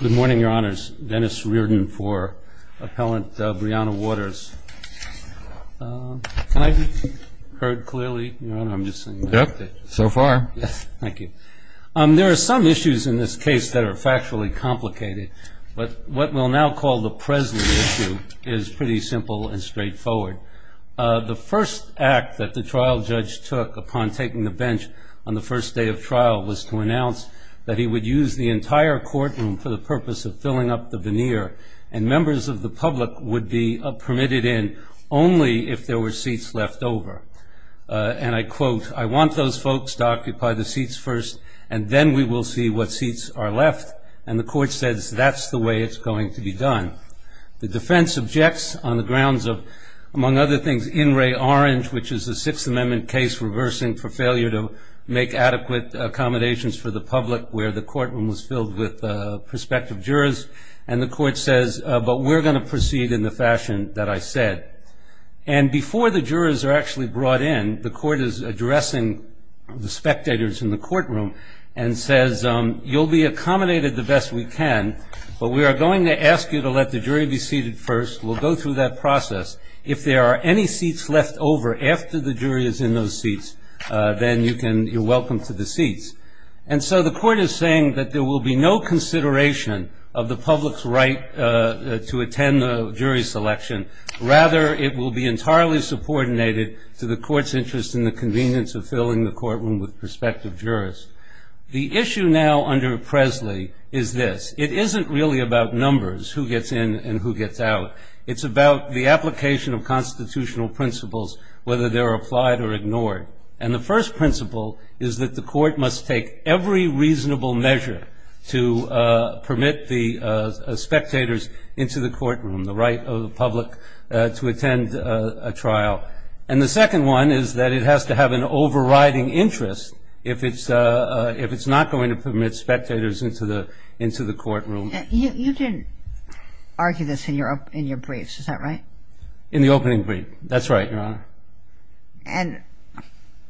Good morning, your honors. Dennis Reardon for appellant Briana Waters. Can I be heard clearly? Yep, so far. Thank you. There are some issues in this case that are factually complicated, but what we'll now call the Presley issue is pretty simple and straightforward. The first act that the trial judge took upon taking the bench on the first day of trial was to announce that he would use the entire courtroom for the purpose of filling up the veneer and members of the public would be permitted in only if there were seats left over. And I quote, I want those folks to occupy the seats first and then we will see what seats are left. And the court says that's the way it's going to be done. The defense objects on the grounds of, among other things, In re Orange, which is a Sixth Amendment case reversing for failure to make adequate accommodations for the public, where the courtroom was filled with prospective jurors. And the court says, but we're going to proceed in the fashion that I said. And before the jurors are actually brought in, the court is addressing the spectators in the courtroom and says you'll be accommodated the best we can, but we are going to ask you to let the jury be seated first. We'll go through that process. If there are any seats left over after the jury is in those seats, then you're welcome to the seats. And so the court is saying that there will be no consideration of the public's right to attend the jury selection. Rather, it will be entirely subordinated to the court's interest in the convenience of filling the courtroom with prospective jurors. The issue now under Presley is this. It isn't really about numbers, who gets in and who gets out. It's about the application of constitutional principles, whether they're applied or ignored. And the first principle is that the court must take every reasonable measure to permit the spectators into the courtroom, the right of the public to attend a trial. And the second one is that it has to have an overriding interest if it's not going to permit spectators into the courtroom. You didn't argue this in your briefs. Is that right? In the opening brief. That's right, Your Honor. And?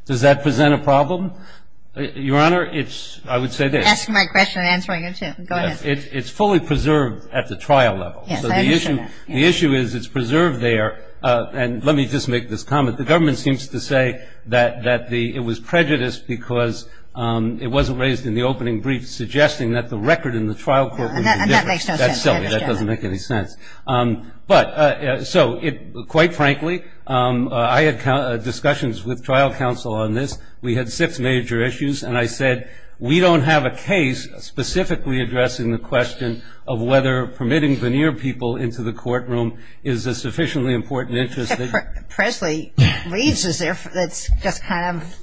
Does that present a problem? Your Honor, I would say this. Ask my question and I'll answer yours, too. Go ahead. It's fully preserved at the trial level. Yes, I understand that. The issue is it's preserved there. And let me just make this comment. The government seems to say that it was prejudiced because it wasn't raised in the opening brief, suggesting that the record in the trial court was different. And that makes no sense. That's silly. That doesn't make any sense. But so, quite frankly, I had discussions with trial counsel on this. We had six major issues. And I said, we don't have a case specifically addressing the question of whether permitting veneer people into the courtroom is a sufficiently important interest. Presley reads as if it's just kind of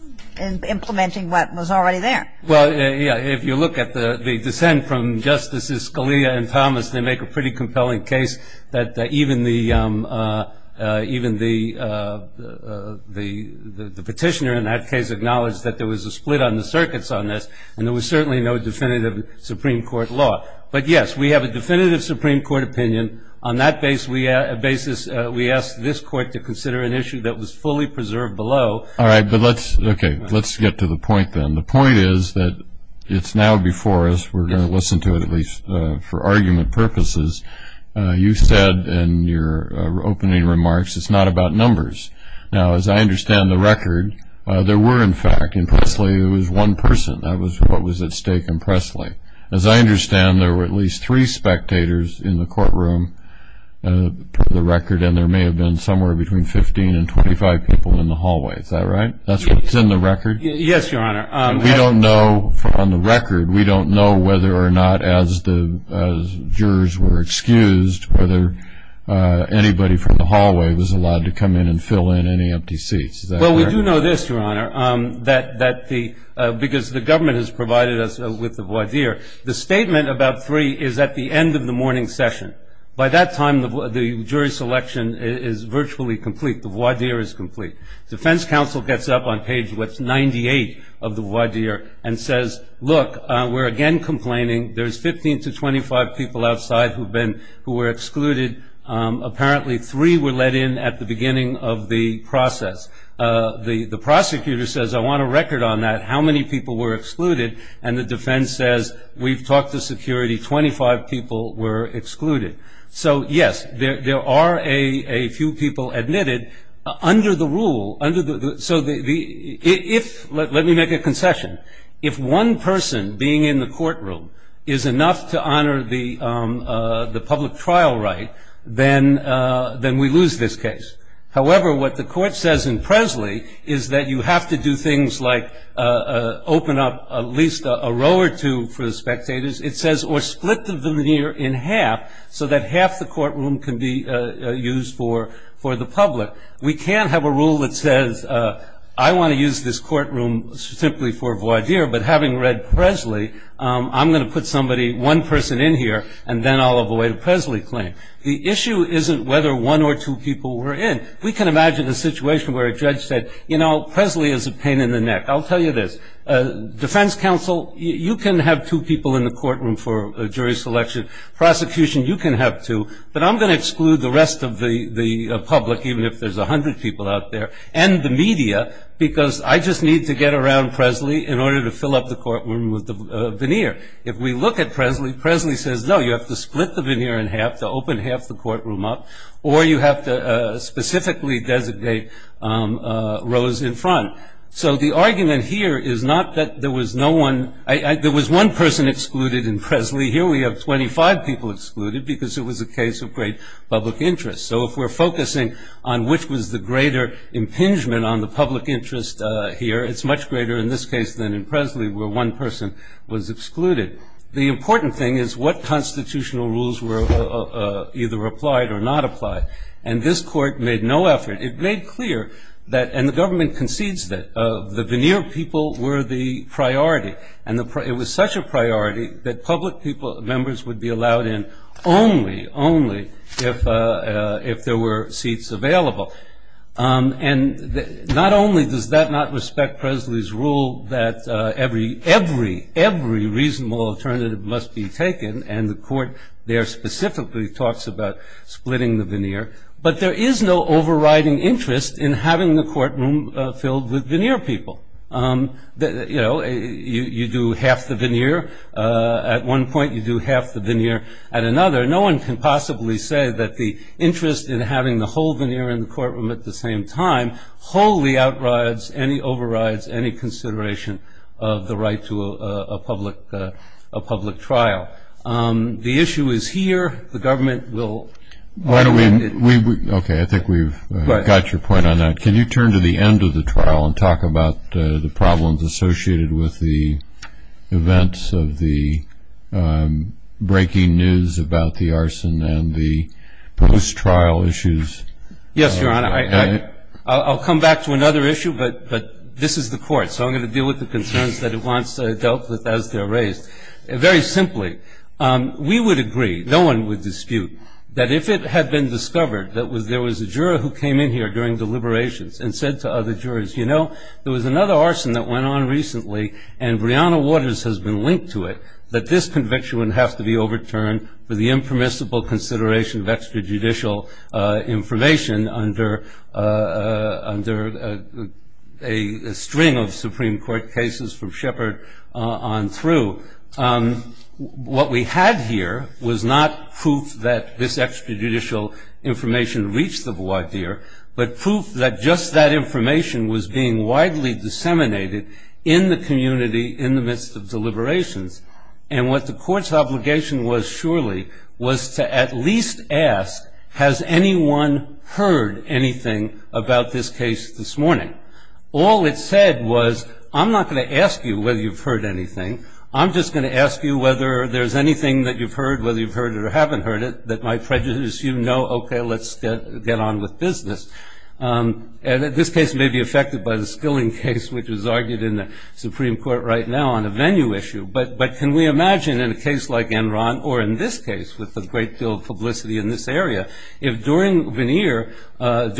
implementing what was already there. Well, yeah, if you look at the dissent from Justices Scalia and Thomas, they make a pretty compelling case that even the petitioner in that case acknowledged that there was a split on the circuits on this, and there was certainly no definitive Supreme Court law. But, yes, we have a definitive Supreme Court opinion. On that basis, we asked this Court to consider an issue that was fully preserved below. All right, but let's get to the point then. The point is that it's now before us. We're going to listen to it at least for argument purposes. You said in your opening remarks, it's not about numbers. Now, as I understand the record, there were, in fact, in Presley, there was one person. That was what was at stake in Presley. As I understand, there were at least three spectators in the courtroom per the record, and there may have been somewhere between 15 and 25 people in the hallway. Is that right? That's what's in the record? Yes, Your Honor. We don't know from the record. We don't know whether or not, as jurors were excused, whether anybody from the hallway was allowed to come in and fill in any empty seats. Is that right? Well, we do know this, Your Honor, because the government has provided us with the voir dire. The statement about three is at the end of the morning session. By that time, the jury selection is virtually complete. The voir dire is complete. Defense counsel gets up on page 98 of the voir dire and says, look, we're again complaining. There's 15 to 25 people outside who were excluded. Apparently, three were let in at the beginning of the process. The prosecutor says, I want a record on that, how many people were excluded, and the defense says, we've talked to security, 25 people were excluded. So, yes, there are a few people admitted. Under the rule, under the so the if let me make a concession, if one person being in the courtroom is enough to honor the public trial right, then we lose this case. However, what the court says in Presley is that you have to do things like open up at least a row or two for the spectators. It says or split the venir in half so that half the courtroom can be used for the public. We can't have a rule that says I want to use this courtroom simply for voir dire, but having read Presley, I'm going to put somebody, one person in here, and then I'll avoid a Presley claim. The issue isn't whether one or two people were in. We can imagine a situation where a judge said, you know, Presley is a pain in the neck. I'll tell you this. Defense counsel, you can have two people in the courtroom for jury selection. Prosecution, you can have two, but I'm going to exclude the rest of the public, even if there's 100 people out there, and the media, because I just need to get around Presley in order to fill up the courtroom with the venir. If we look at Presley, Presley says, no, you have to split the venir in half to open half the courtroom up, or you have to specifically designate rows in front. So the argument here is not that there was no one. There was one person excluded in Presley. Here we have 25 people excluded because it was a case of great public interest. So if we're focusing on which was the greater impingement on the public interest here, it's much greater in this case than in Presley where one person was excluded. The important thing is what constitutional rules were either applied or not applied, and this court made no effort. And the government concedes that the venir people were the priority, and it was such a priority that public members would be allowed in only, only if there were seats available. And not only does that not respect Presley's rule that every, every, every reasonable alternative must be taken, and the court there specifically talks about splitting the venir, but there is no overriding interest in having the courtroom filled with veneer people. You know, you do half the veneer at one point, you do half the veneer at another. No one can possibly say that the interest in having the whole veneer in the courtroom at the same time wholly overrides any consideration of the right to a public trial. The issue is here. The government will. Okay, I think we've got your point on that. Can you turn to the end of the trial and talk about the problems associated with the events of the breaking news about the arson and the post-trial issues? Yes, Your Honor. I'll come back to another issue, but this is the court, so I'm going to deal with the concerns that it wants dealt with as they're raised. Very simply, we would agree, no one would dispute, that if it had been discovered that there was a juror who came in here during deliberations and said to other jurors, you know, there was another arson that went on recently and Breonna Waters has been linked to it, that this conviction would have to be overturned for the impermissible consideration of extrajudicial information under a string of Supreme Court cases from Shepard on through. What we had here was not proof that this extrajudicial information reached the voir dire, but proof that just that information was being widely disseminated in the community in the midst of deliberations. And what the court's obligation was surely was to at least ask, has anyone heard anything about this case this morning? All it said was, I'm not going to ask you whether you've heard anything. I'm just going to ask you whether there's anything that you've heard, whether you've heard it or haven't heard it, that might prejudice you. No, okay, let's get on with business. And this case may be affected by the Skilling case, which was argued in the Supreme Court right now on a venue issue. But can we imagine in a case like Enron, or in this case with a great deal of publicity in this area, if during voir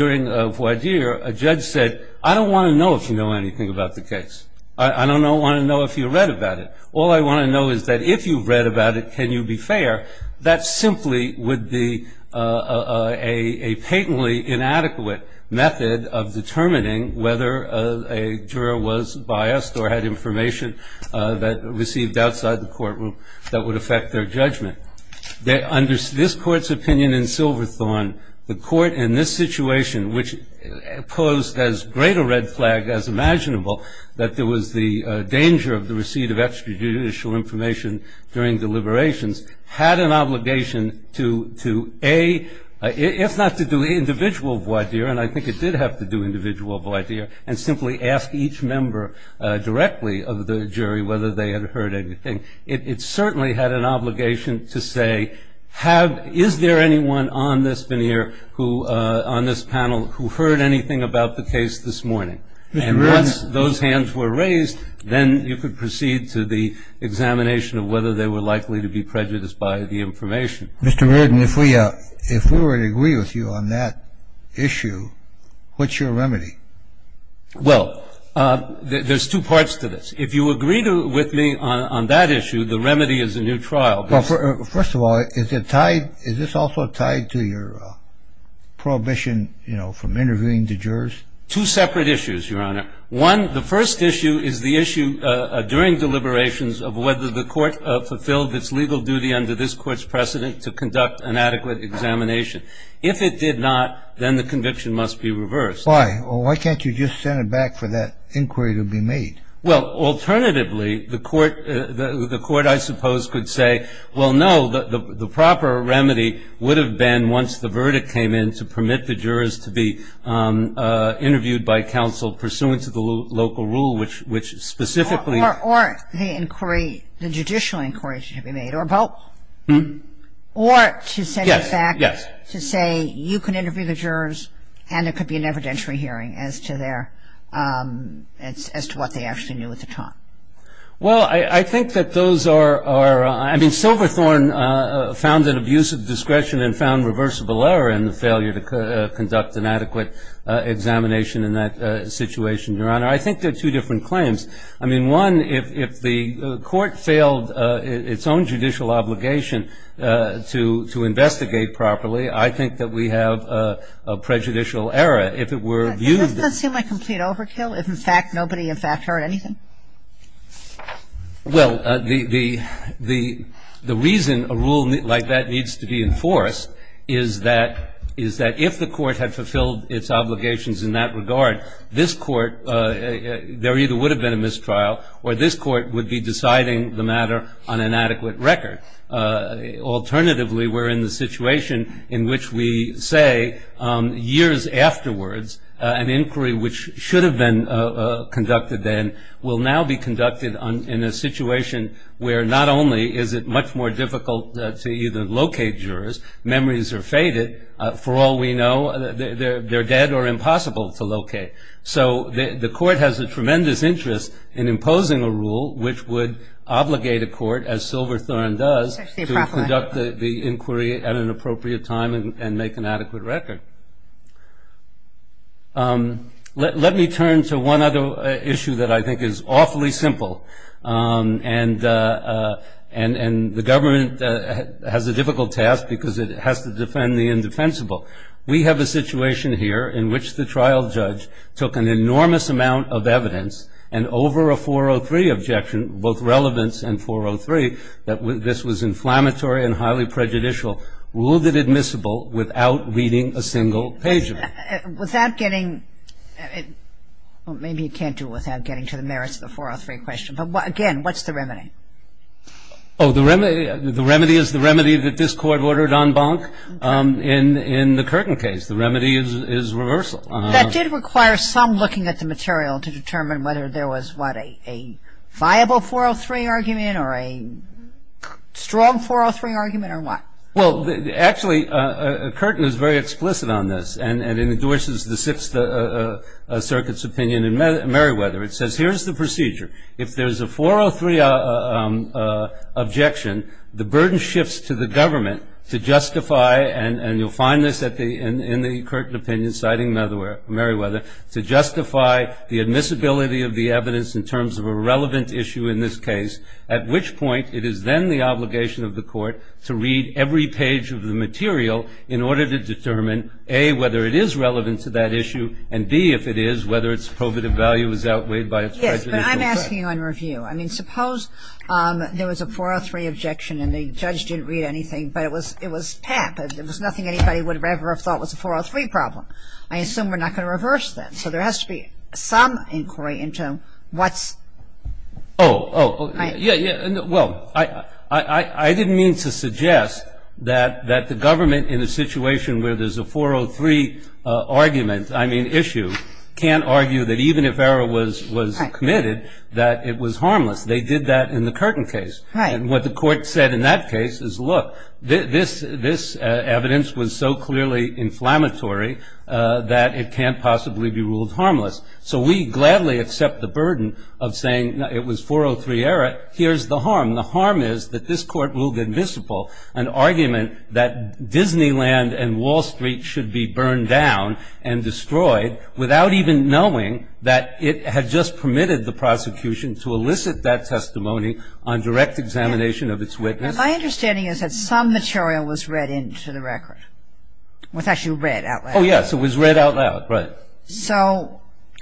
dire a judge said, I don't want to know if you know anything about the case. I don't want to know if you read about it. All I want to know is that if you've read about it, can you be fair? That simply would be a patently inadequate method of determining whether a juror was biased or had information that received outside the courtroom that would affect their judgment. Under this Court's opinion in Silverthorne, the Court in this situation, which posed as great a red flag as imaginable, that there was the danger of the receipt of extrajudicial information during deliberations, had an obligation to, A, if not to do individual voir dire, and I think it did have to do individual voir dire, and simply ask each member directly of the jury whether they had heard anything. It certainly had an obligation to say, is there anyone on this panel who heard anything about the case this morning? And once those hands were raised, then you could proceed to the examination of whether they were likely to be prejudiced by the information. Mr. Reardon, if we were to agree with you on that issue, what's your remedy? Well, there's two parts to this. If you agree with me on that issue, the remedy is a new trial. First of all, is this also tied to your prohibition from interviewing the jurors? Two separate issues, Your Honor. One, the first issue is the issue during deliberations of whether the Court fulfilled its legal duty under this Court's precedent to conduct an adequate examination. If it did not, then the conviction must be reversed. Why? Why can't you just send it back for that inquiry to be made? Well, alternatively, the Court, I suppose, could say, well, no, the proper remedy would have been once the verdict came in, to permit the jurors to be interviewed by counsel pursuant to the local rule, which specifically Or the inquiry, the judicial inquiry to be made. Or both. Or to send it back to say you can interview the jurors and there could be an evidentiary hearing as to what they actually knew at the time. Well, I think that those are, I mean, Silverthorne found an abuse of discretion and found reversible error in the failure to conduct an adequate examination in that situation, Your Honor. I think they're two different claims. I mean, one, if the Court failed its own judicial obligation to investigate properly, I think that we have a prejudicial error. If it were viewed as an overkill, if in fact nobody in fact heard anything. Well, the reason a rule like that needs to be enforced is that if the Court had fulfilled its obligations in that regard, this Court, there either would have been a mistrial or this Court would be deciding the matter on an adequate record. Alternatively, we're in the situation in which we say years afterwards, an inquiry which should have been conducted then will now be conducted in a situation where not only is it much more difficult to either locate jurors, memories are faded. For all we know, they're dead or impossible to locate. So the Court has a tremendous interest in imposing a rule which would obligate a court, as Silverthorne does, to conduct the inquiry at an appropriate time and make an adequate record. Let me turn to one other issue that I think is awfully simple. And the government has a difficult task because it has to defend the indefensible. We have a situation here in which the trial judge took an enormous amount of evidence and over a 403 objection, both relevance and 403, that this was inflammatory and highly prejudicial, ruled it admissible without reading a single page of it. Without getting, well, maybe you can't do it without getting to the merits of the 403 question, but again, what's the remedy? Oh, the remedy is the remedy that this Court ordered en banc in the Curtin case. The remedy is reversal. That did require some looking at the material to determine whether there was, what, a viable 403 argument or a strong 403 argument or what? Well, actually, Curtin is very explicit on this and endorses the Sixth Circuit's opinion in Merriweather. It says here's the procedure. If there's a 403 objection, the burden shifts to the government to justify, and you'll find this in the Curtin opinion citing Merriweather, to justify the admissibility of the evidence in terms of a relevant issue in this case, at which point it is then the obligation of the Court to read every page of the material in order to determine, A, whether it is relevant to that issue, and, B, if it is, whether its probative value is outweighed by its prejudicial effect. Yes, but I'm asking on review. I mean, suppose there was a 403 objection and the judge didn't read anything, but it was PAP. It was nothing anybody would have ever thought was a 403 problem. I assume we're not going to reverse that. So there has to be some inquiry into what's ‑‑ Oh, oh. Yeah, yeah. Well, I didn't mean to suggest that the government, in a situation where there's a 403 argument, I mean issue, can't argue that even if error was committed, that it was harmless. They did that in the Curtin case. And what the Court said in that case is, look, this evidence was so clearly inflammatory that it can't possibly be ruled harmless. So we gladly accept the burden of saying it was 403 error. Here's the harm. The harm is that this Court ruled invisible an argument that Disneyland and Wall Street should be burned down and destroyed without even knowing that it had just permitted the prosecution to elicit that testimony on direct examination of its witness. My understanding is that some material was read into the record, was actually read out loud. Oh, yes, it was read out loud, right.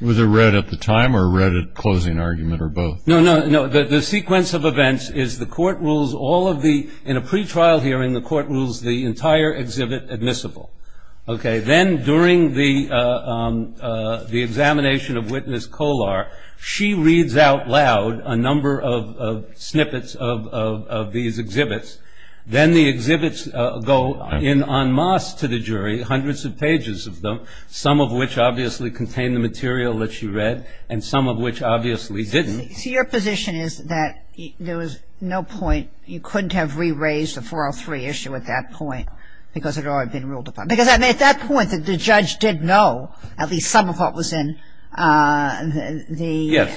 Was it read at the time or read at closing argument or both? No, no, no. The sequence of events is the Court rules all of the ‑‑ in a pretrial hearing the Court rules the entire exhibit admissible. Okay. Then during the examination of witness Kolar, she reads out loud a number of snippets of these exhibits. Then the exhibits go in en masse to the jury, hundreds of pages of them, some of which obviously contain the material that she read and some of which obviously didn't. So your position is that there was no point, you couldn't have re‑raised the 403 issue at that point because it had already been ruled upon. Because at that point the judge did know at least some of what was in the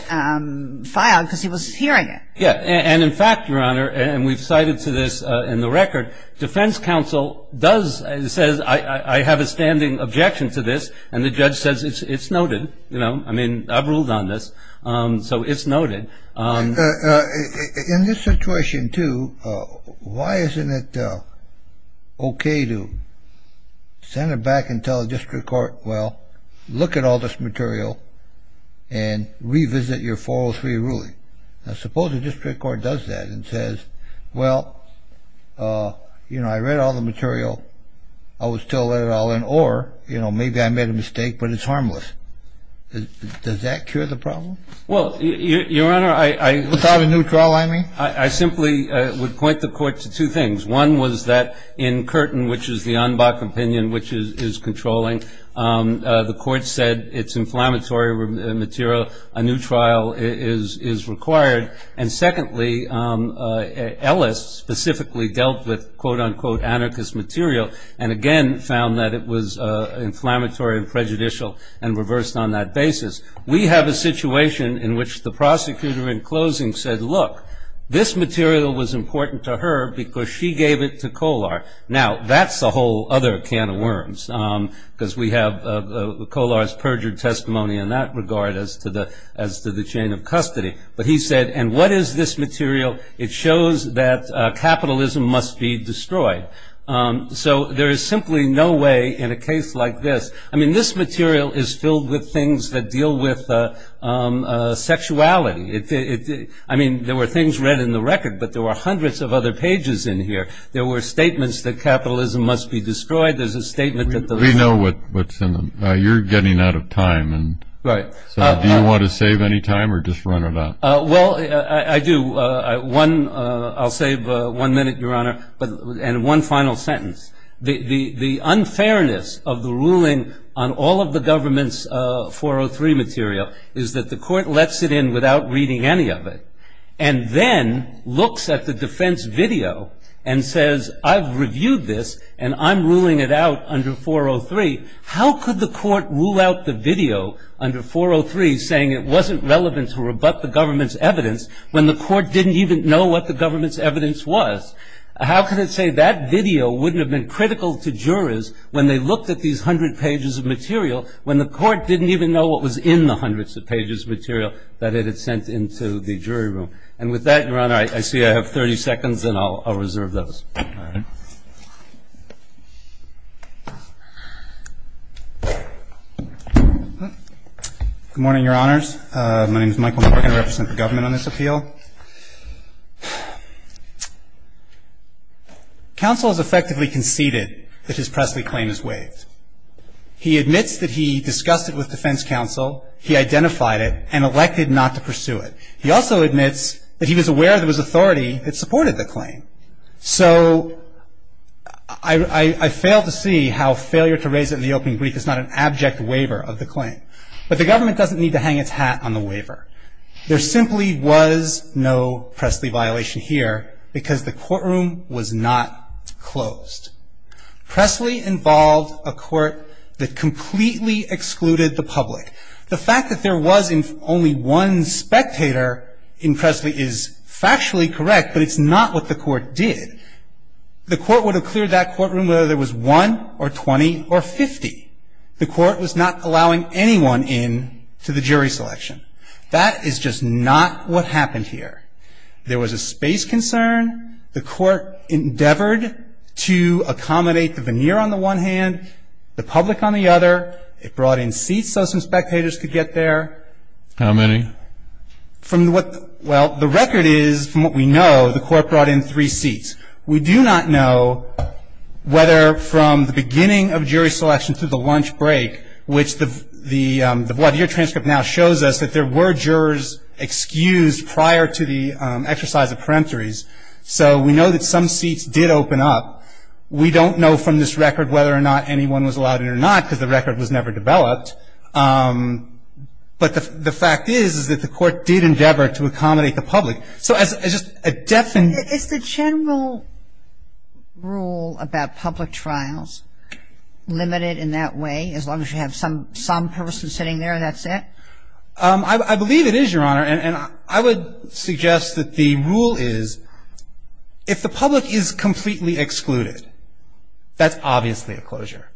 file because he was hearing it. Yes. And in fact, Your Honor, and we've cited to this in the record, defense counsel does say I have a standing objection to this and the judge says it's noted, you know. I mean, I've ruled on this, so it's noted. In this situation, too, why isn't it okay to send it back and tell the district court, well, look at all this material and revisit your 403 ruling? Now suppose the district court does that and says, well, you know, I read all the material, I would still let it all in, or, you know, maybe I made a mistake but it's harmless. Does that cure the problem? Well, Your Honor, I ‑‑ Without a new trial, I mean? I simply would point the court to two things. One was that in Curtin, which is the UNBOC opinion, which is controlling, the court said it's inflammatory material. A new trial is required. And secondly, Ellis specifically dealt with, quote, unquote, anarchist material and again found that it was inflammatory and prejudicial and reversed on that basis. We have a situation in which the prosecutor in closing said, look, this material was important to her because she gave it to Kolar. Now, that's a whole other can of worms because we have Kolar's perjured testimony in that regard as to the chain of custody. But he said, and what is this material? It shows that capitalism must be destroyed. So there is simply no way in a case like this, I mean, this material is filled with things that deal with sexuality. I mean, there were things read in the record, but there were hundreds of other pages in here. There were statements that capitalism must be destroyed. There's a statement that the- We know what's in them. You're getting out of time. Right. So do you want to save any time or just run it out? Well, I do. I'll save one minute, Your Honor, and one final sentence. The unfairness of the ruling on all of the government's 403 material is that the court lets it in without reading any of it and then looks at the defense video and says, I've reviewed this and I'm ruling it out under 403. How could the court rule out the video under 403 saying it wasn't relevant to rebut the government's evidence when the court didn't even know what the government's evidence was? How could it say that video wouldn't have been critical to jurors when they looked at these hundred pages of material when the court didn't even know what was in the hundreds of pages of material that it had sent into the jury room? And with that, Your Honor, I see I have 30 seconds and I'll reserve those. Good morning, Your Honors. My name is Michael McCorkin. I represent the government on this appeal. Counsel has effectively conceded that his Presley claim is waived. He admits that he discussed it with defense counsel. He identified it and elected not to pursue it. He also admits that he was aware there was authority that supported the claim. So I fail to see how failure to raise it in the open brief is not an abject waiver of the claim. But the government doesn't need to hang its hat on the waiver. There simply was no Presley violation here because the courtroom was not closed. Presley involved a court that completely excluded the public. The fact that there was only one spectator in Presley is factually correct, but it's not what the court did. The court would have cleared that courtroom whether there was one or 20 or 50. The court was not allowing anyone in to the jury selection. That is just not what happened here. There was a space concern. The court endeavored to accommodate the veneer on the one hand, the public on the other. It brought in seats so some spectators could get there. How many? From what the record is, from what we know, the court brought in three seats. We do not know whether from the beginning of jury selection to the lunch break, which the blood year transcript now shows us that there were jurors excused prior to the exercise of peremptories. So we know that some seats did open up. We don't know from this record whether or not anyone was allowed in or not because the record was never developed. But the fact is, is that the court did endeavor to accommodate the public. So as just a definite ‑‑ I believe it is, Your Honor, and I would suggest that the rule is if the public is completely excluded, that's obviously a closure.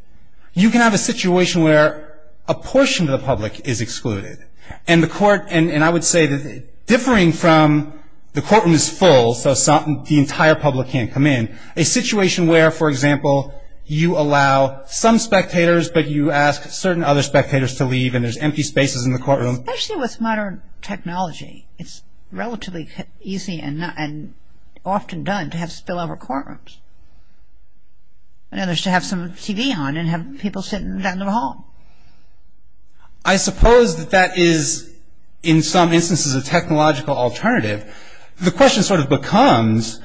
You can have a situation where a portion of the public is excluded. And the court ‑‑ and I would say that differing from the courtroom is full, so the entire public can't come in. A situation where, for example, you allow some spectators, but you ask certain other spectators to leave and there's empty spaces in the courtroom. Especially with modern technology, it's relatively easy and often done to have spillover courtrooms. In other words, to have some TV on and have people sitting down in the hall. I suppose that that is, in some instances, a technological alternative. The question sort of becomes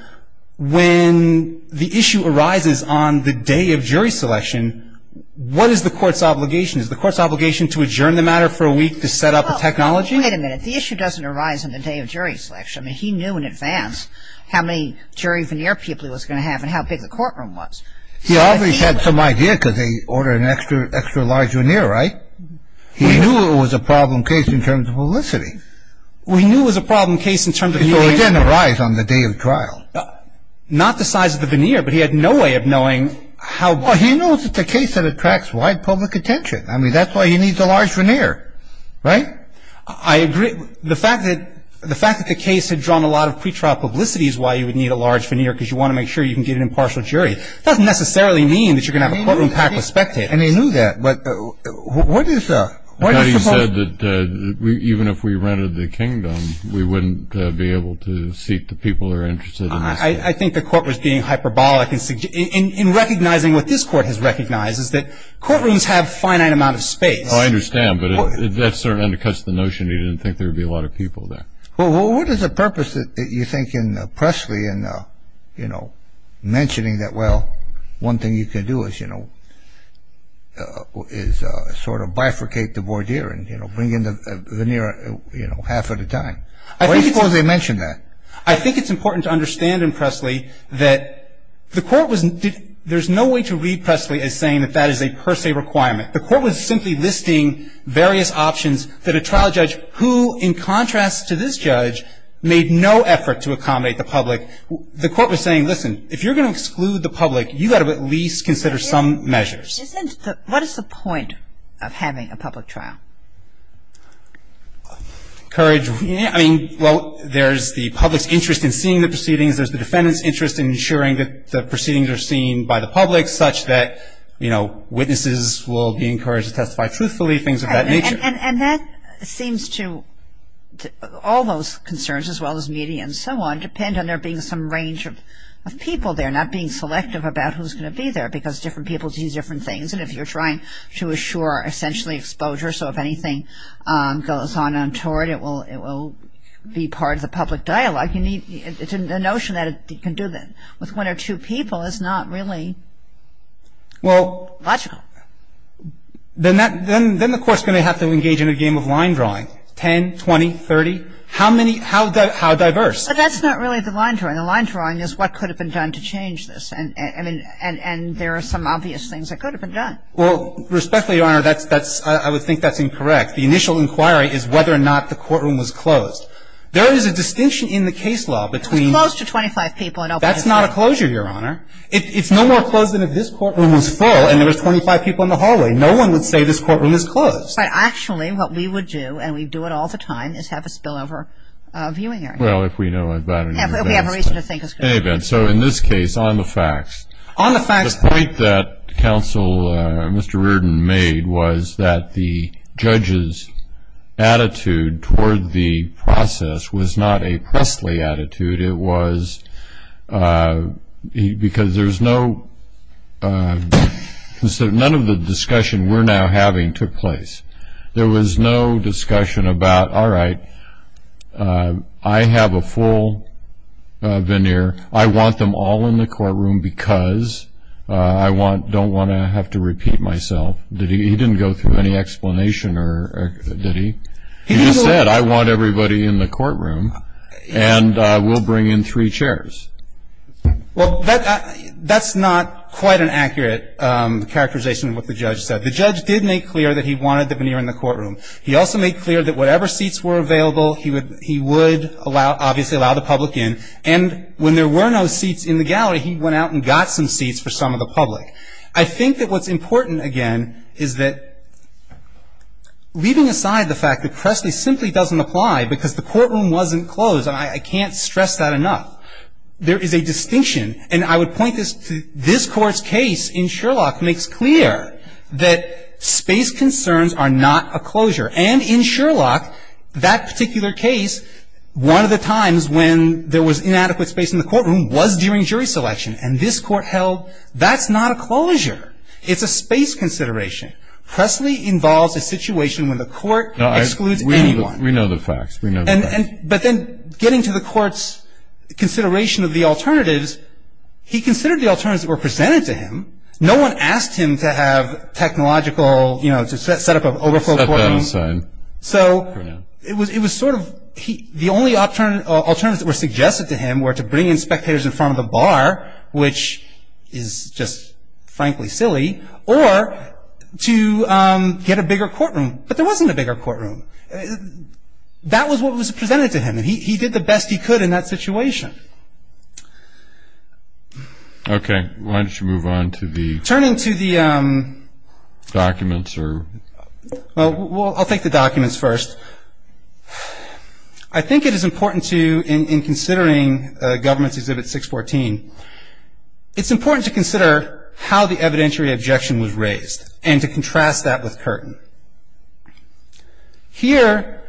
when the issue arises on the day of jury selection, what is the court's obligation? Is the court's obligation to adjourn the matter for a week to set up a technology? Wait a minute. The issue doesn't arise on the day of jury selection. He knew in advance how many jury veneer people he was going to have and how big the courtroom was. He always had some idea because they order an extra large veneer, right? He knew it was a problem case in terms of publicity. We knew it was a problem case in terms of the veneer. So it didn't arise on the day of trial. Not the size of the veneer, but he had no way of knowing how big. Well, he knows it's a case that attracts wide public attention. I mean, that's why he needs a large veneer, right? I agree. The fact that the case had drawn a lot of pretrial publicity is why you would need a large veneer because you want to make sure you can get an impartial jury. It doesn't necessarily mean that you're going to have a courtroom packed with spectators. And he knew that. But what is the... I thought he said that even if we rented the kingdom, we wouldn't be able to seat the people that are interested in this case. I think the court was being hyperbolic in recognizing what this court has recognized is that courtrooms have a finite amount of space. I understand, but that sort of undercuts the notion. He didn't think there would be a lot of people there. Well, what is the purpose, you think, in Pressley in mentioning that, well, one thing you can do is, you know, is sort of bifurcate the voir dire and, you know, bring in the veneer, you know, half of the time. Why do you suppose they mentioned that? I think it's important to understand in Pressley that the court was... there's no way to read Pressley as saying that that is a per se requirement. The court was simply listing various options that a trial judge, who in contrast to this judge, made no effort to accommodate the public. The court was saying, listen, if you're going to exclude the public, you've got to at least consider some measures. What is the point of having a public trial? Courage. I mean, well, there's the public's interest in seeing the proceedings. There's the defendant's interest in ensuring that the proceedings are seen by the public, such that, you know, witnesses will be encouraged to testify truthfully, things of that nature. And that seems to... all those concerns, as well as media and so on, tend to depend on there being some range of people there, not being selective about who's going to be there, because different people do different things. And if you're trying to assure essentially exposure, so if anything goes on untoward, it will be part of the public dialogue. It's a notion that you can do that with one or two people is not really logical. Then the court's going to have to engage in a game of line drawing, 10, 20, 30. How diverse? But that's not really the line drawing. The line drawing is what could have been done to change this. And there are some obvious things that could have been done. Well, respectfully, Your Honor, I would think that's incorrect. The initial inquiry is whether or not the courtroom was closed. There is a distinction in the case law between... It was closed to 25 people. That's not a closure, Your Honor. It's no more closed than if this courtroom was full and there was 25 people in the hallway. No one would say this courtroom is closed. Actually, what we would do, and we do it all the time, is have a spillover viewing area. Well, if we know about it. We have reason to think it's good. In any event, so in this case, on the facts. On the facts. The point that Counsel Mr. Reardon made was that the judge's attitude toward the process was not a Presley attitude. It was because there's no... None of the discussion we're now having took place. There was no discussion about, all right, I have a full veneer. I want them all in the courtroom because I don't want to have to repeat myself. He didn't go through any explanation, did he? He just said, I want everybody in the courtroom and we'll bring in three chairs. Well, that's not quite an accurate characterization of what the judge said. The judge did make clear that he wanted the veneer in the courtroom. He also made clear that whatever seats were available, he would obviously allow the public in. And when there were no seats in the gallery, he went out and got some seats for some of the public. I think that what's important, again, is that leaving aside the fact that Presley simply doesn't apply because the courtroom wasn't closed, and I can't stress that enough, there is a distinction. And I would point this to this Court's case in Sherlock makes clear that space concerns are not a closure. And in Sherlock, that particular case, one of the times when there was inadequate space in the courtroom, was during jury selection, and this Court held that's not a closure. It's a space consideration. Presley involves a situation when the Court excludes anyone. We know the facts. But then getting to the Court's consideration of the alternatives, he considered the alternatives that were presented to him. No one asked him to have technological, you know, to set up an overflow courtroom. So it was sort of the only alternatives that were suggested to him were to bring in spectators in front of the bar, which is just frankly silly, or to get a bigger courtroom. But there wasn't a bigger courtroom. That was what was presented to him, and he did the best he could in that situation. Okay. Why don't you move on to the... Turning to the... Documents or... Well, I'll take the documents first. I think it is important to, in considering Government's Exhibit 614, it's important to consider how the evidentiary objection was raised, and to contrast that with Curtin. Here,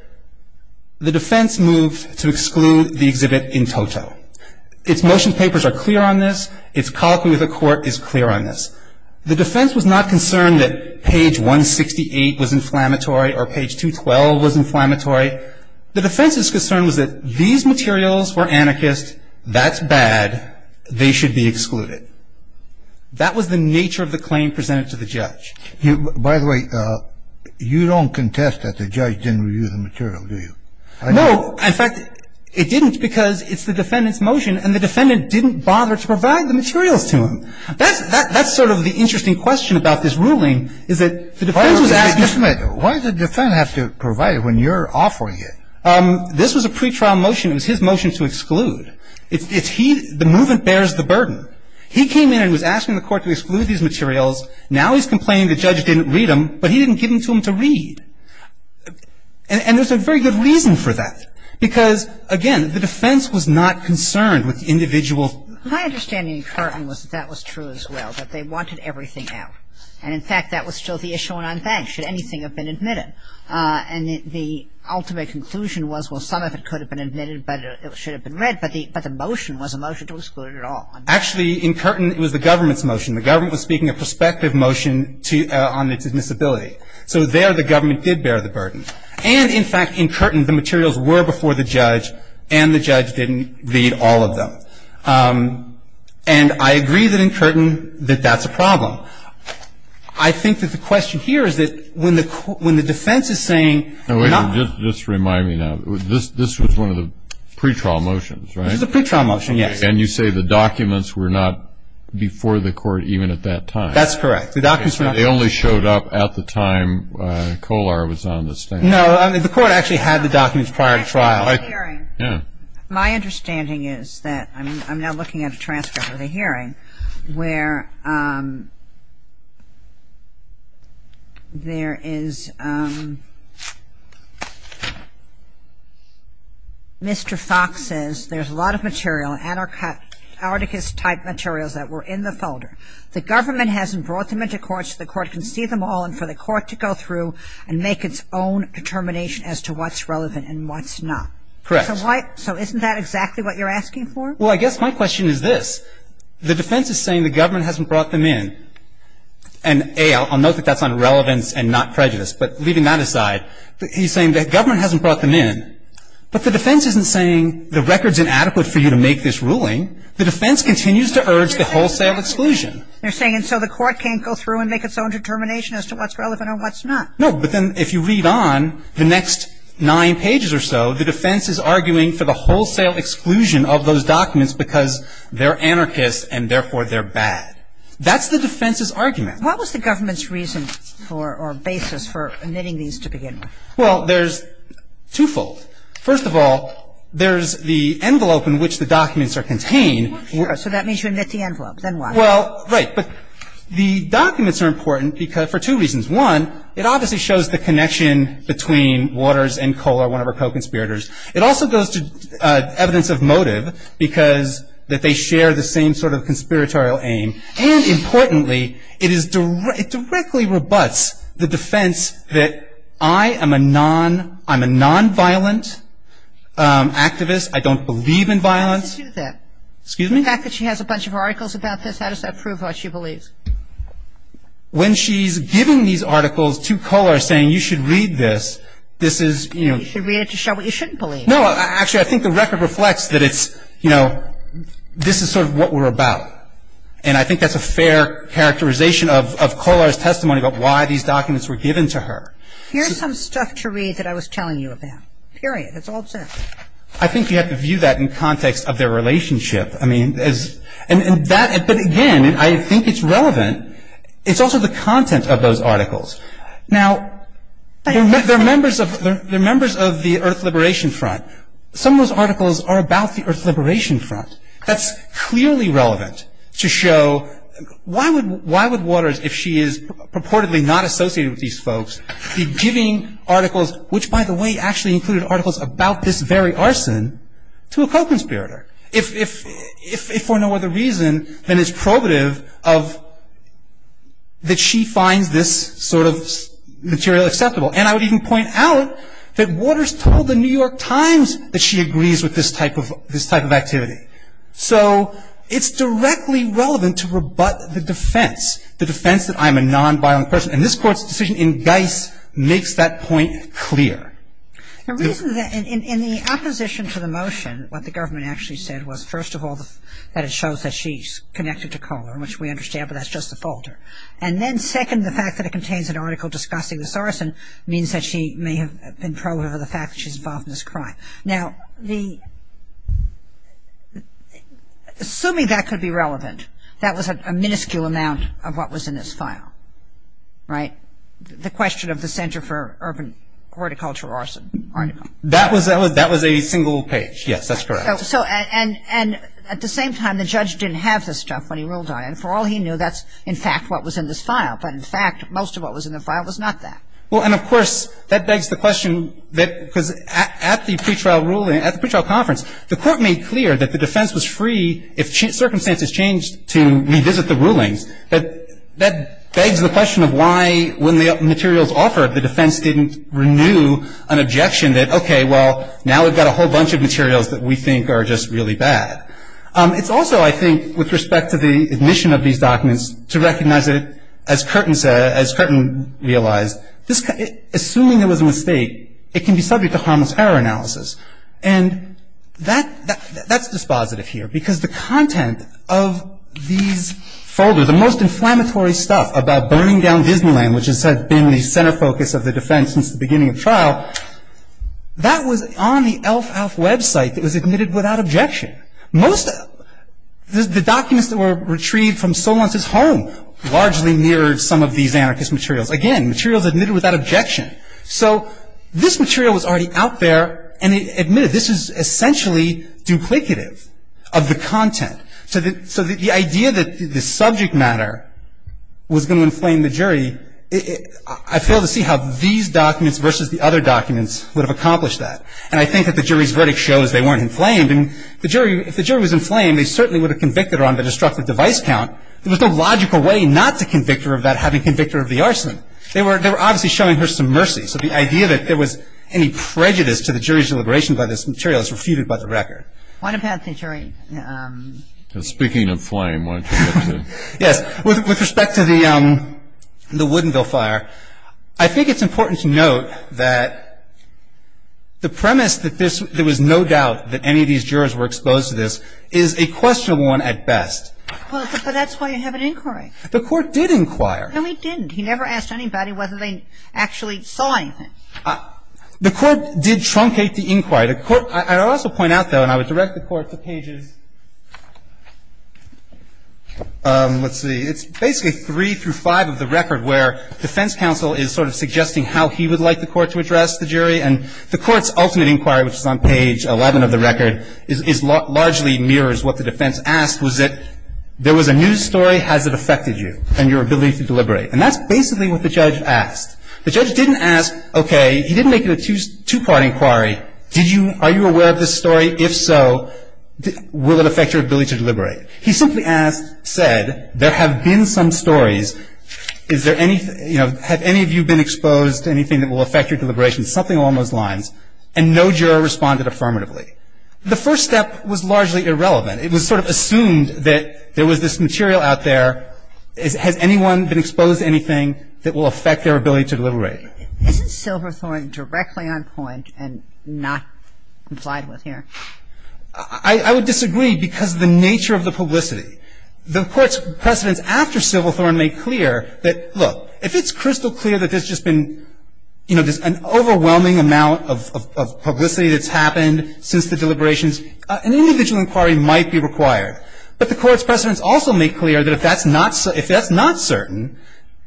the defense moved to exclude the exhibit in toto. Its motion papers are clear on this. Its colloquy with the Court is clear on this. The defense was not concerned that page 168 was inflammatory or page 212 was inflammatory. The defense's concern was that these materials were anarchist. That's bad. They should be excluded. That was the nature of the claim presented to the judge. By the way, you don't contest that the judge didn't review the material, do you? No. In fact, it didn't because it's the defendant's motion, and the defendant didn't bother to provide the materials to him. That's sort of the interesting question about this ruling, is that the defense was asking... Wait a minute. Why did the defendant have to provide it when you're offering it? This was a pretrial motion. It was his motion to exclude. The movement bears the burden. He came in and was asking the Court to exclude these materials. Now he's complaining the judge didn't read them, but he didn't give them to him to read. And there's a very good reason for that. Because, again, the defense was not concerned with individual... My understanding in Curtin was that that was true as well, that they wanted everything out. And, in fact, that was still the issue on unbanked. Should anything have been admitted? And the ultimate conclusion was, well, some of it could have been admitted, but it should have been read. But the motion was a motion to exclude it all. Actually, in Curtin, it was the government's motion. The government was speaking a prospective motion on its admissibility. So there the government did bear the burden. And, in fact, in Curtin, the materials were before the judge, and the judge didn't read all of them. And I agree that in Curtin that that's a problem. I think that the question here is that when the defense is saying... Wait a minute. Just remind me now. This was one of the pretrial motions, right? This was a pretrial motion, yes. And you say the documents were not before the court even at that time. That's correct. They only showed up at the time Kolar was on the stand. No. The court actually had the documents prior to trial. My understanding is that... I'm now looking at a transcript of the hearing where there is... Mr. Fox says there's a lot of material, anarchist-type materials that were in the folder. The government hasn't brought them into court so the court can see them all and for the court to go through and make its own determination as to what's relevant and what's not. Correct. So isn't that exactly what you're asking for? Well, I guess my question is this. The defense is saying the government hasn't brought them in. And, A, I'll note that that's on relevance and not prejudice. But leaving that aside, he's saying the government hasn't brought them in. But the defense isn't saying the record's inadequate for you to make this ruling. The defense continues to urge the wholesale exclusion. They're saying and so the court can't go through and make its own determination as to what's relevant and what's not. No. But then if you read on, the next nine pages or so, the defense is arguing for the wholesale exclusion of those documents That's the defense's argument. What was the government's reason for or basis for omitting these to begin with? Well, there's twofold. First of all, there's the envelope in which the documents are contained. Sure. So that means you omit the envelope. Then why? Well, right. But the documents are important for two reasons. One, it obviously shows the connection between Waters and Kohler, one of our co-conspirators. It also goes to evidence of motive because that they share the same sort of conspiratorial aim. And importantly, it directly rebuts the defense that I am a non-violent activist. I don't believe in violence. How does she do that? Excuse me? The fact that she has a bunch of articles about this, how does that prove what she believes? When she's giving these articles to Kohler saying you should read this, this is, you know. You should read it to show what you shouldn't believe. No. Actually, I think the record reflects that it's, you know, this is sort of what we're about. And I think that's a fair characterization of Kohler's testimony about why these documents were given to her. Here's some stuff to read that I was telling you about. Period. That's all it says. I think you have to view that in context of their relationship. I mean, and that, but again, I think it's relevant. It's also the content of those articles. Now, they're members of the Earth Liberation Front. Some of those articles are about the Earth Liberation Front. That's clearly relevant to show why would Waters, if she is purportedly not associated with these folks, be giving articles, which, by the way, actually included articles about this very arson, to a co-conspirator? If for no other reason than it's probative of, that she finds this sort of material acceptable. And I would even point out that Waters told the New York Times that she agrees with this type of activity. So it's directly relevant to rebut the defense, the defense that I'm a nonviolent person. And this Court's decision in Geis makes that point clear. The reason that, in the opposition to the motion, what the government actually said was, first of all, that it shows that she's connected to Kohler, which we understand, but that's just a folder. And then, second, the fact that it contains an article discussing this arson means that she may have been pro of the fact that she's involved in this crime. Now, assuming that could be relevant, that was a minuscule amount of what was in this file, right? The question of the Center for Urban Horticulture Arson article. That was a single page. Yes, that's correct. And at the same time, the judge didn't have this stuff when he ruled on it. And for all he knew, that's, in fact, what was in this file. But, in fact, most of what was in the file was not that. Well, and, of course, that begs the question that, because at the pretrial ruling, at the pretrial conference, the Court made clear that the defense was free, if circumstances changed, to revisit the rulings. That begs the question of why, when the materials offered, the defense didn't renew an objection that, okay, well, now we've got a whole bunch of materials that we think are just really bad. It's also, I think, with respect to the admission of these documents, to recognize it, as Curtin said, as Curtin realized, assuming it was a mistake, it can be subject to harmless error analysis. And that's dispositive here, because the content of these folders, the most inflammatory stuff about burning down Disneyland, which has been the center focus of the defense since the beginning of trial, that was on the Elf Out website that was admitted without objection. Most of the documents that were retrieved from Solon's home largely mirrored some of these anarchist materials. Again, materials admitted without objection. So this material was already out there, and it admitted this is essentially duplicative of the content. So the idea that the subject matter was going to inflame the jury, I fail to see how these documents versus the other documents would have accomplished that. And I think that the jury's verdict shows they weren't inflamed. And the jury, if the jury was inflamed, they certainly would have convicted her on the destructive device count. There was no logical way not to convict her of that, having convicted her of the arson. They were obviously showing her some mercy. So the idea that there was any prejudice to the jury's deliberation by this material is refuted by the record. Why not pass the jury? And speaking of flame, why don't you get to it? Yes. With respect to the Woodinville fire, I think it's important to note that the premise that there was no doubt that any of these jurors were exposed to this is a questionable one at best. Well, but that's why you have an inquiry. The Court did inquire. No, it didn't. He never asked anybody whether they actually saw anything. The Court did truncate the inquiry. I would also point out, though, and I would direct the Court to pages, let's see, it's basically three through five of the record where defense counsel is sort of suggesting how he would like the Court to address the jury, and the Court's ultimate inquiry, which is on page 11 of the record, largely mirrors what the defense asked was that there was a news story. Has it affected you and your ability to deliberate? And that's basically what the judge asked. The judge didn't ask, okay, he didn't make it a two-part inquiry. Did you, are you aware of this story? If so, will it affect your ability to deliberate? He simply asked, said, there have been some stories. Is there any, you know, have any of you been exposed to anything that will affect your deliberations? Something along those lines. And no juror responded affirmatively. The first step was largely irrelevant. It was sort of assumed that there was this material out there. Has anyone been exposed to anything that will affect their ability to deliberate? Is it Silverthorne directly on point and not complied with here? I would disagree because of the nature of the publicity. The Court's precedents after Silverthorne make clear that, look, if it's crystal clear that there's just been, you know, an overwhelming amount of publicity that's happened since the deliberations, an individual inquiry might be required. But the Court's precedents also make clear that if that's not certain,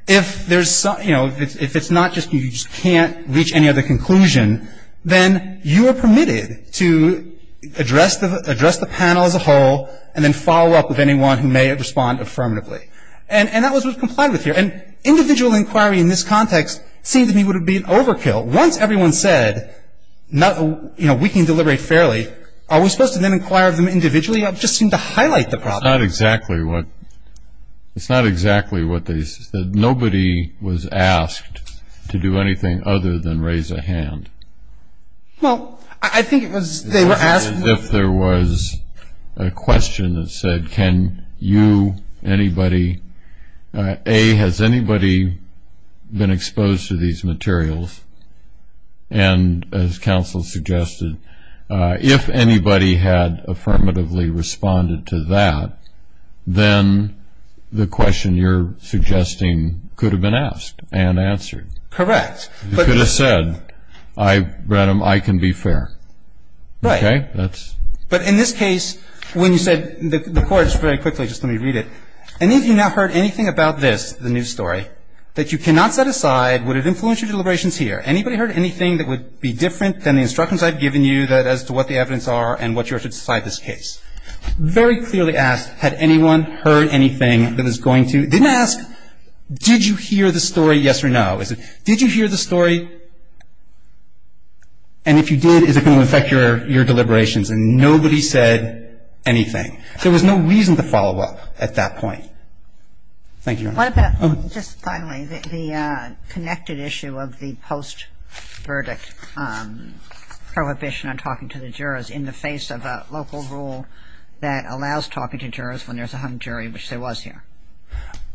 if there's some, you know, if it's not just you just can't reach any other conclusion, then you are permitted to address the panel as a whole and then follow up with anyone who may respond affirmatively. And that was what was complied with here. And individual inquiry in this context seemed to me would be an overkill. Once everyone said, you know, we can deliberate fairly, are we supposed to then inquire of them individually? It just seemed to highlight the problem. It's not exactly what they said. Nobody was asked to do anything other than raise a hand. Well, I think it was they were asked. As if there was a question that said, can you, anybody, A, has anybody been exposed to these materials? And as counsel suggested, if anybody had affirmatively responded to that, then the question you're suggesting could have been asked and answered. Correct. You could have said, I, Brenham, I can be fair. Right. Okay? But in this case, when you said, the Court, just very quickly, just let me read it, any of you now heard anything about this, the news story, that you cannot set aside, would it influence your deliberations here? Anybody heard anything that would be different than the instructions I've given you as to what the evidence are and what you are to decide this case? Very clearly asked, had anyone heard anything that was going to, didn't ask, did you hear the story, yes or no? Did you hear the story? And if you did, is it going to affect your deliberations? And nobody said anything. There was no reason to follow up at that point. Thank you, Your Honor. What about, just finally, the connected issue of the post-verdict prohibition on talking to the jurors in the face of a local rule that allows talking to jurors when there's a hung jury, which there was here?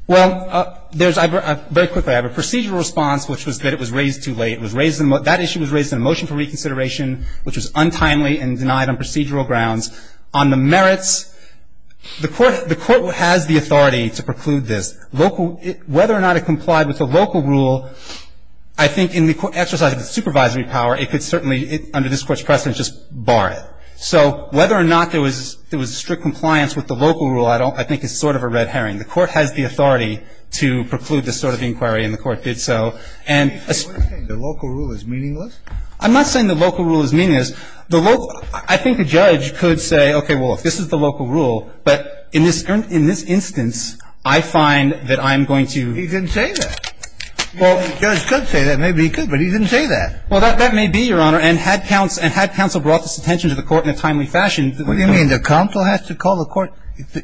Well, there's a, very quickly, I have a procedural response, which was that it was raised too late. It was raised, that issue was raised in a motion for reconsideration, which was untimely and denied on procedural grounds. On the merits, the Court has the authority to preclude this. Whether or not it complied with a local rule, I think in the exercise of its supervisory power, it could certainly, under this Court's precedent, just bar it. So whether or not there was strict compliance with the local rule, I don't, I think it's sort of a red herring. The Court has the authority to preclude this sort of inquiry, and the Court did so. And the local rule is meaningless? I'm not saying the local rule is meaningless. The local, I think a judge could say, okay, well, if this is the local rule, but in this instance, I find that I'm going to. He didn't say that. Well, the judge could say that. Maybe he could, but he didn't say that. Well, that may be, Your Honor. And had counsel brought this attention to the Court in a timely fashion. What do you mean? The counsel has to call the Court?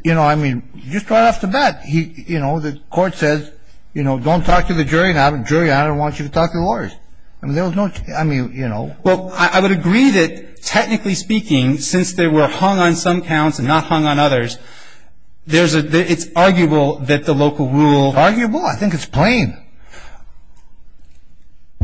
You know, I mean, just right off the bat, he, you know, the Court says, you know, don't talk to the jury now. The jury, I don't want you to talk to the lawyers. I mean, there was no, I mean, you know. Well, I would agree that, technically speaking, since they were hung on some counts and not hung on others, there's a, it's arguable that the local rule. Arguable? I think it's plain.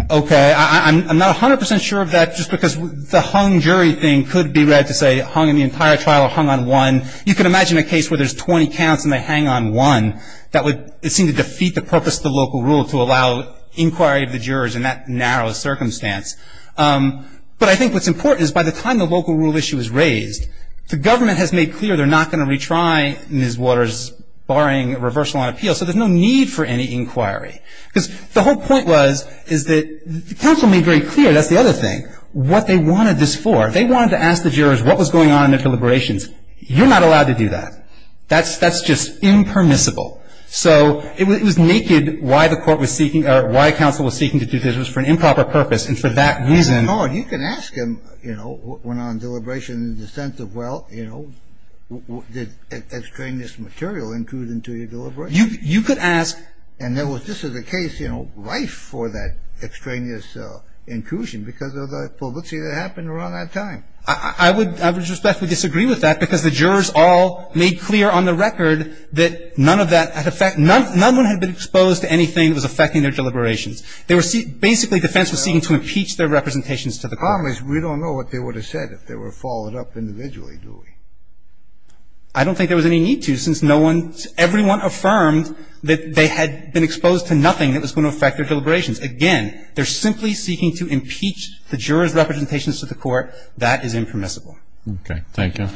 Okay. I'm not 100% sure of that just because the hung jury thing could be read to say hung in the entire trial or hung on one. You could imagine a case where there's 20 counts and they hang on one. That would, it seemed to defeat the purpose of the local rule to allow inquiry of the jurors in that narrow circumstance. But I think what's important is by the time the local rule issue is raised, the government has made clear they're not going to retry Ms. Waters barring reversal on appeal, so there's no need for any inquiry. Because the whole point was, is that the counsel made very clear, that's the other thing, what they wanted this for. They wanted to ask the jurors what was going on in their deliberations. You're not allowed to do that. That's just impermissible. So it was naked why the court was seeking, or why counsel was seeking to do this. It was for an improper purpose, and for that reason. You can ask them, you know, what went on in deliberations in the sense of, well, you know, did extraneous material include into your deliberations. You could ask. And this is a case, you know, right for that extraneous inclusion because of the publicity that happened around that time. I would respectfully disagree with that because the jurors all made clear on the record that none of that had effect, none of them had been exposed to anything that was affecting their deliberations. They were seeking, basically defense was seeking to impeach their representations to the court. Scalia, we don't know what they would have said if they were followed up individually, do we? I don't think there was any need to since no one, everyone affirmed that they had been exposed to nothing that was going to affect their deliberations. Again, they're simply seeking to impeach the jurors' representations to the court. That is impermissible. Okay. Thank you.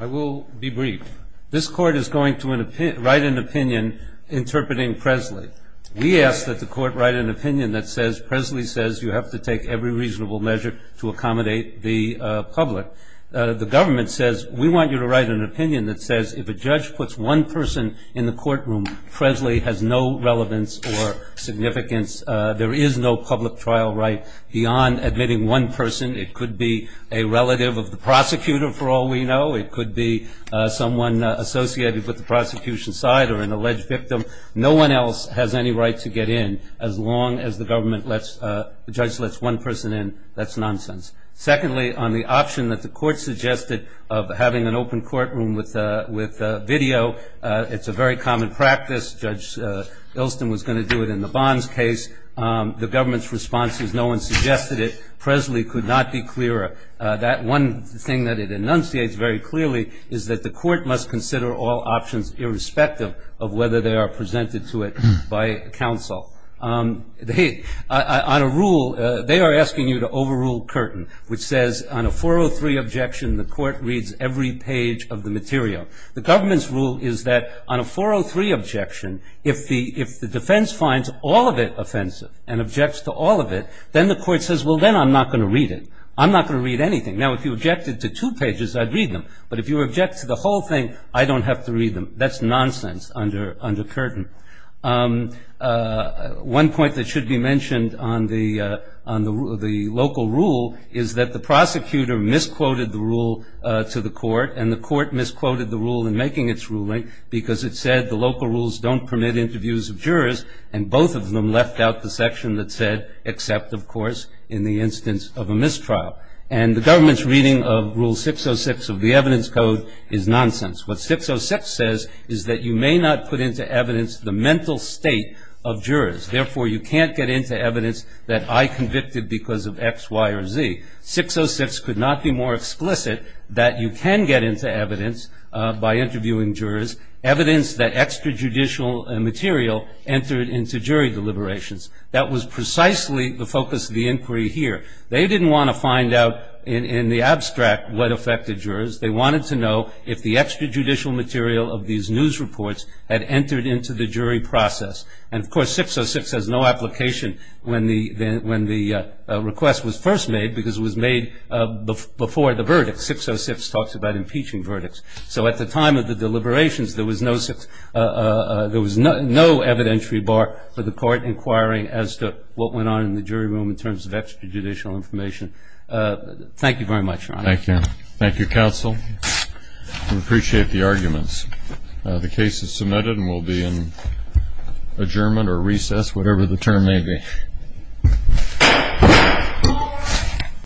I will be brief. This Court is going to write an opinion interpreting Presley. We ask that the Court write an opinion that says Presley says you have to take every reasonable measure to accommodate the public. The government says we want you to write an opinion that says if a judge puts one person in the courtroom, Presley has no relevance or significance, there is no public trial right beyond admitting one person. It could be a relative of the prosecutor, for all we know. It could be someone associated with the prosecution side or an alleged victim. No one else has any right to get in. As long as the government lets, the judge lets one person in, that's nonsense. Secondly, on the option that the Court suggested of having an open courtroom with video, it's a very common practice. Judge Ilston was going to do it in the Bonds case. The government's response is no one suggested it. Presley could not be clearer. That one thing that it enunciates very clearly is that the Court must consider all options, irrespective of whether they are presented to it by counsel. On a rule, they are asking you to overrule Curtin, which says on a 403 objection, the Court reads every page of the material. The government's rule is that on a 403 objection, if the defense finds all of it offensive and objects to all of it, then the Court says, well, then I'm not going to read it. I'm not going to read anything. Now, if you objected to two pages, I'd read them. But if you object to the whole thing, I don't have to read them. That's nonsense under Curtin. One point that should be mentioned on the local rule is that the prosecutor misquoted the rule to the Court, and the Court misquoted the rule in making its ruling because it said the local rules don't permit interviews of jurors, and both of them left out the section that said, except, of course, in the instance of a mistrial. And the government's reading of Rule 606 of the Evidence Code is nonsense. What 606 says is that you may not put into evidence the mental state of jurors. Therefore, you can't get into evidence that I convicted because of X, Y, or Z. 606 could not be more explicit that you can get into evidence by interviewing jurors, evidence that extrajudicial material entered into jury deliberations. That was precisely the focus of the inquiry here. They didn't want to find out in the abstract what affected jurors. They wanted to know if the extrajudicial material of these news reports had entered into the jury process. And, of course, 606 has no application when the request was first made because it was made before the verdict. 606 talks about impeaching verdicts. So at the time of the deliberations, there was no evidentiary bar for the Court inquiring as to what went on in the jury room in terms of extrajudicial information. Thank you very much, Your Honor. Thank you. Thank you, counsel. We appreciate the arguments. The case is submitted and will be in adjournment or recess, whatever the term may be.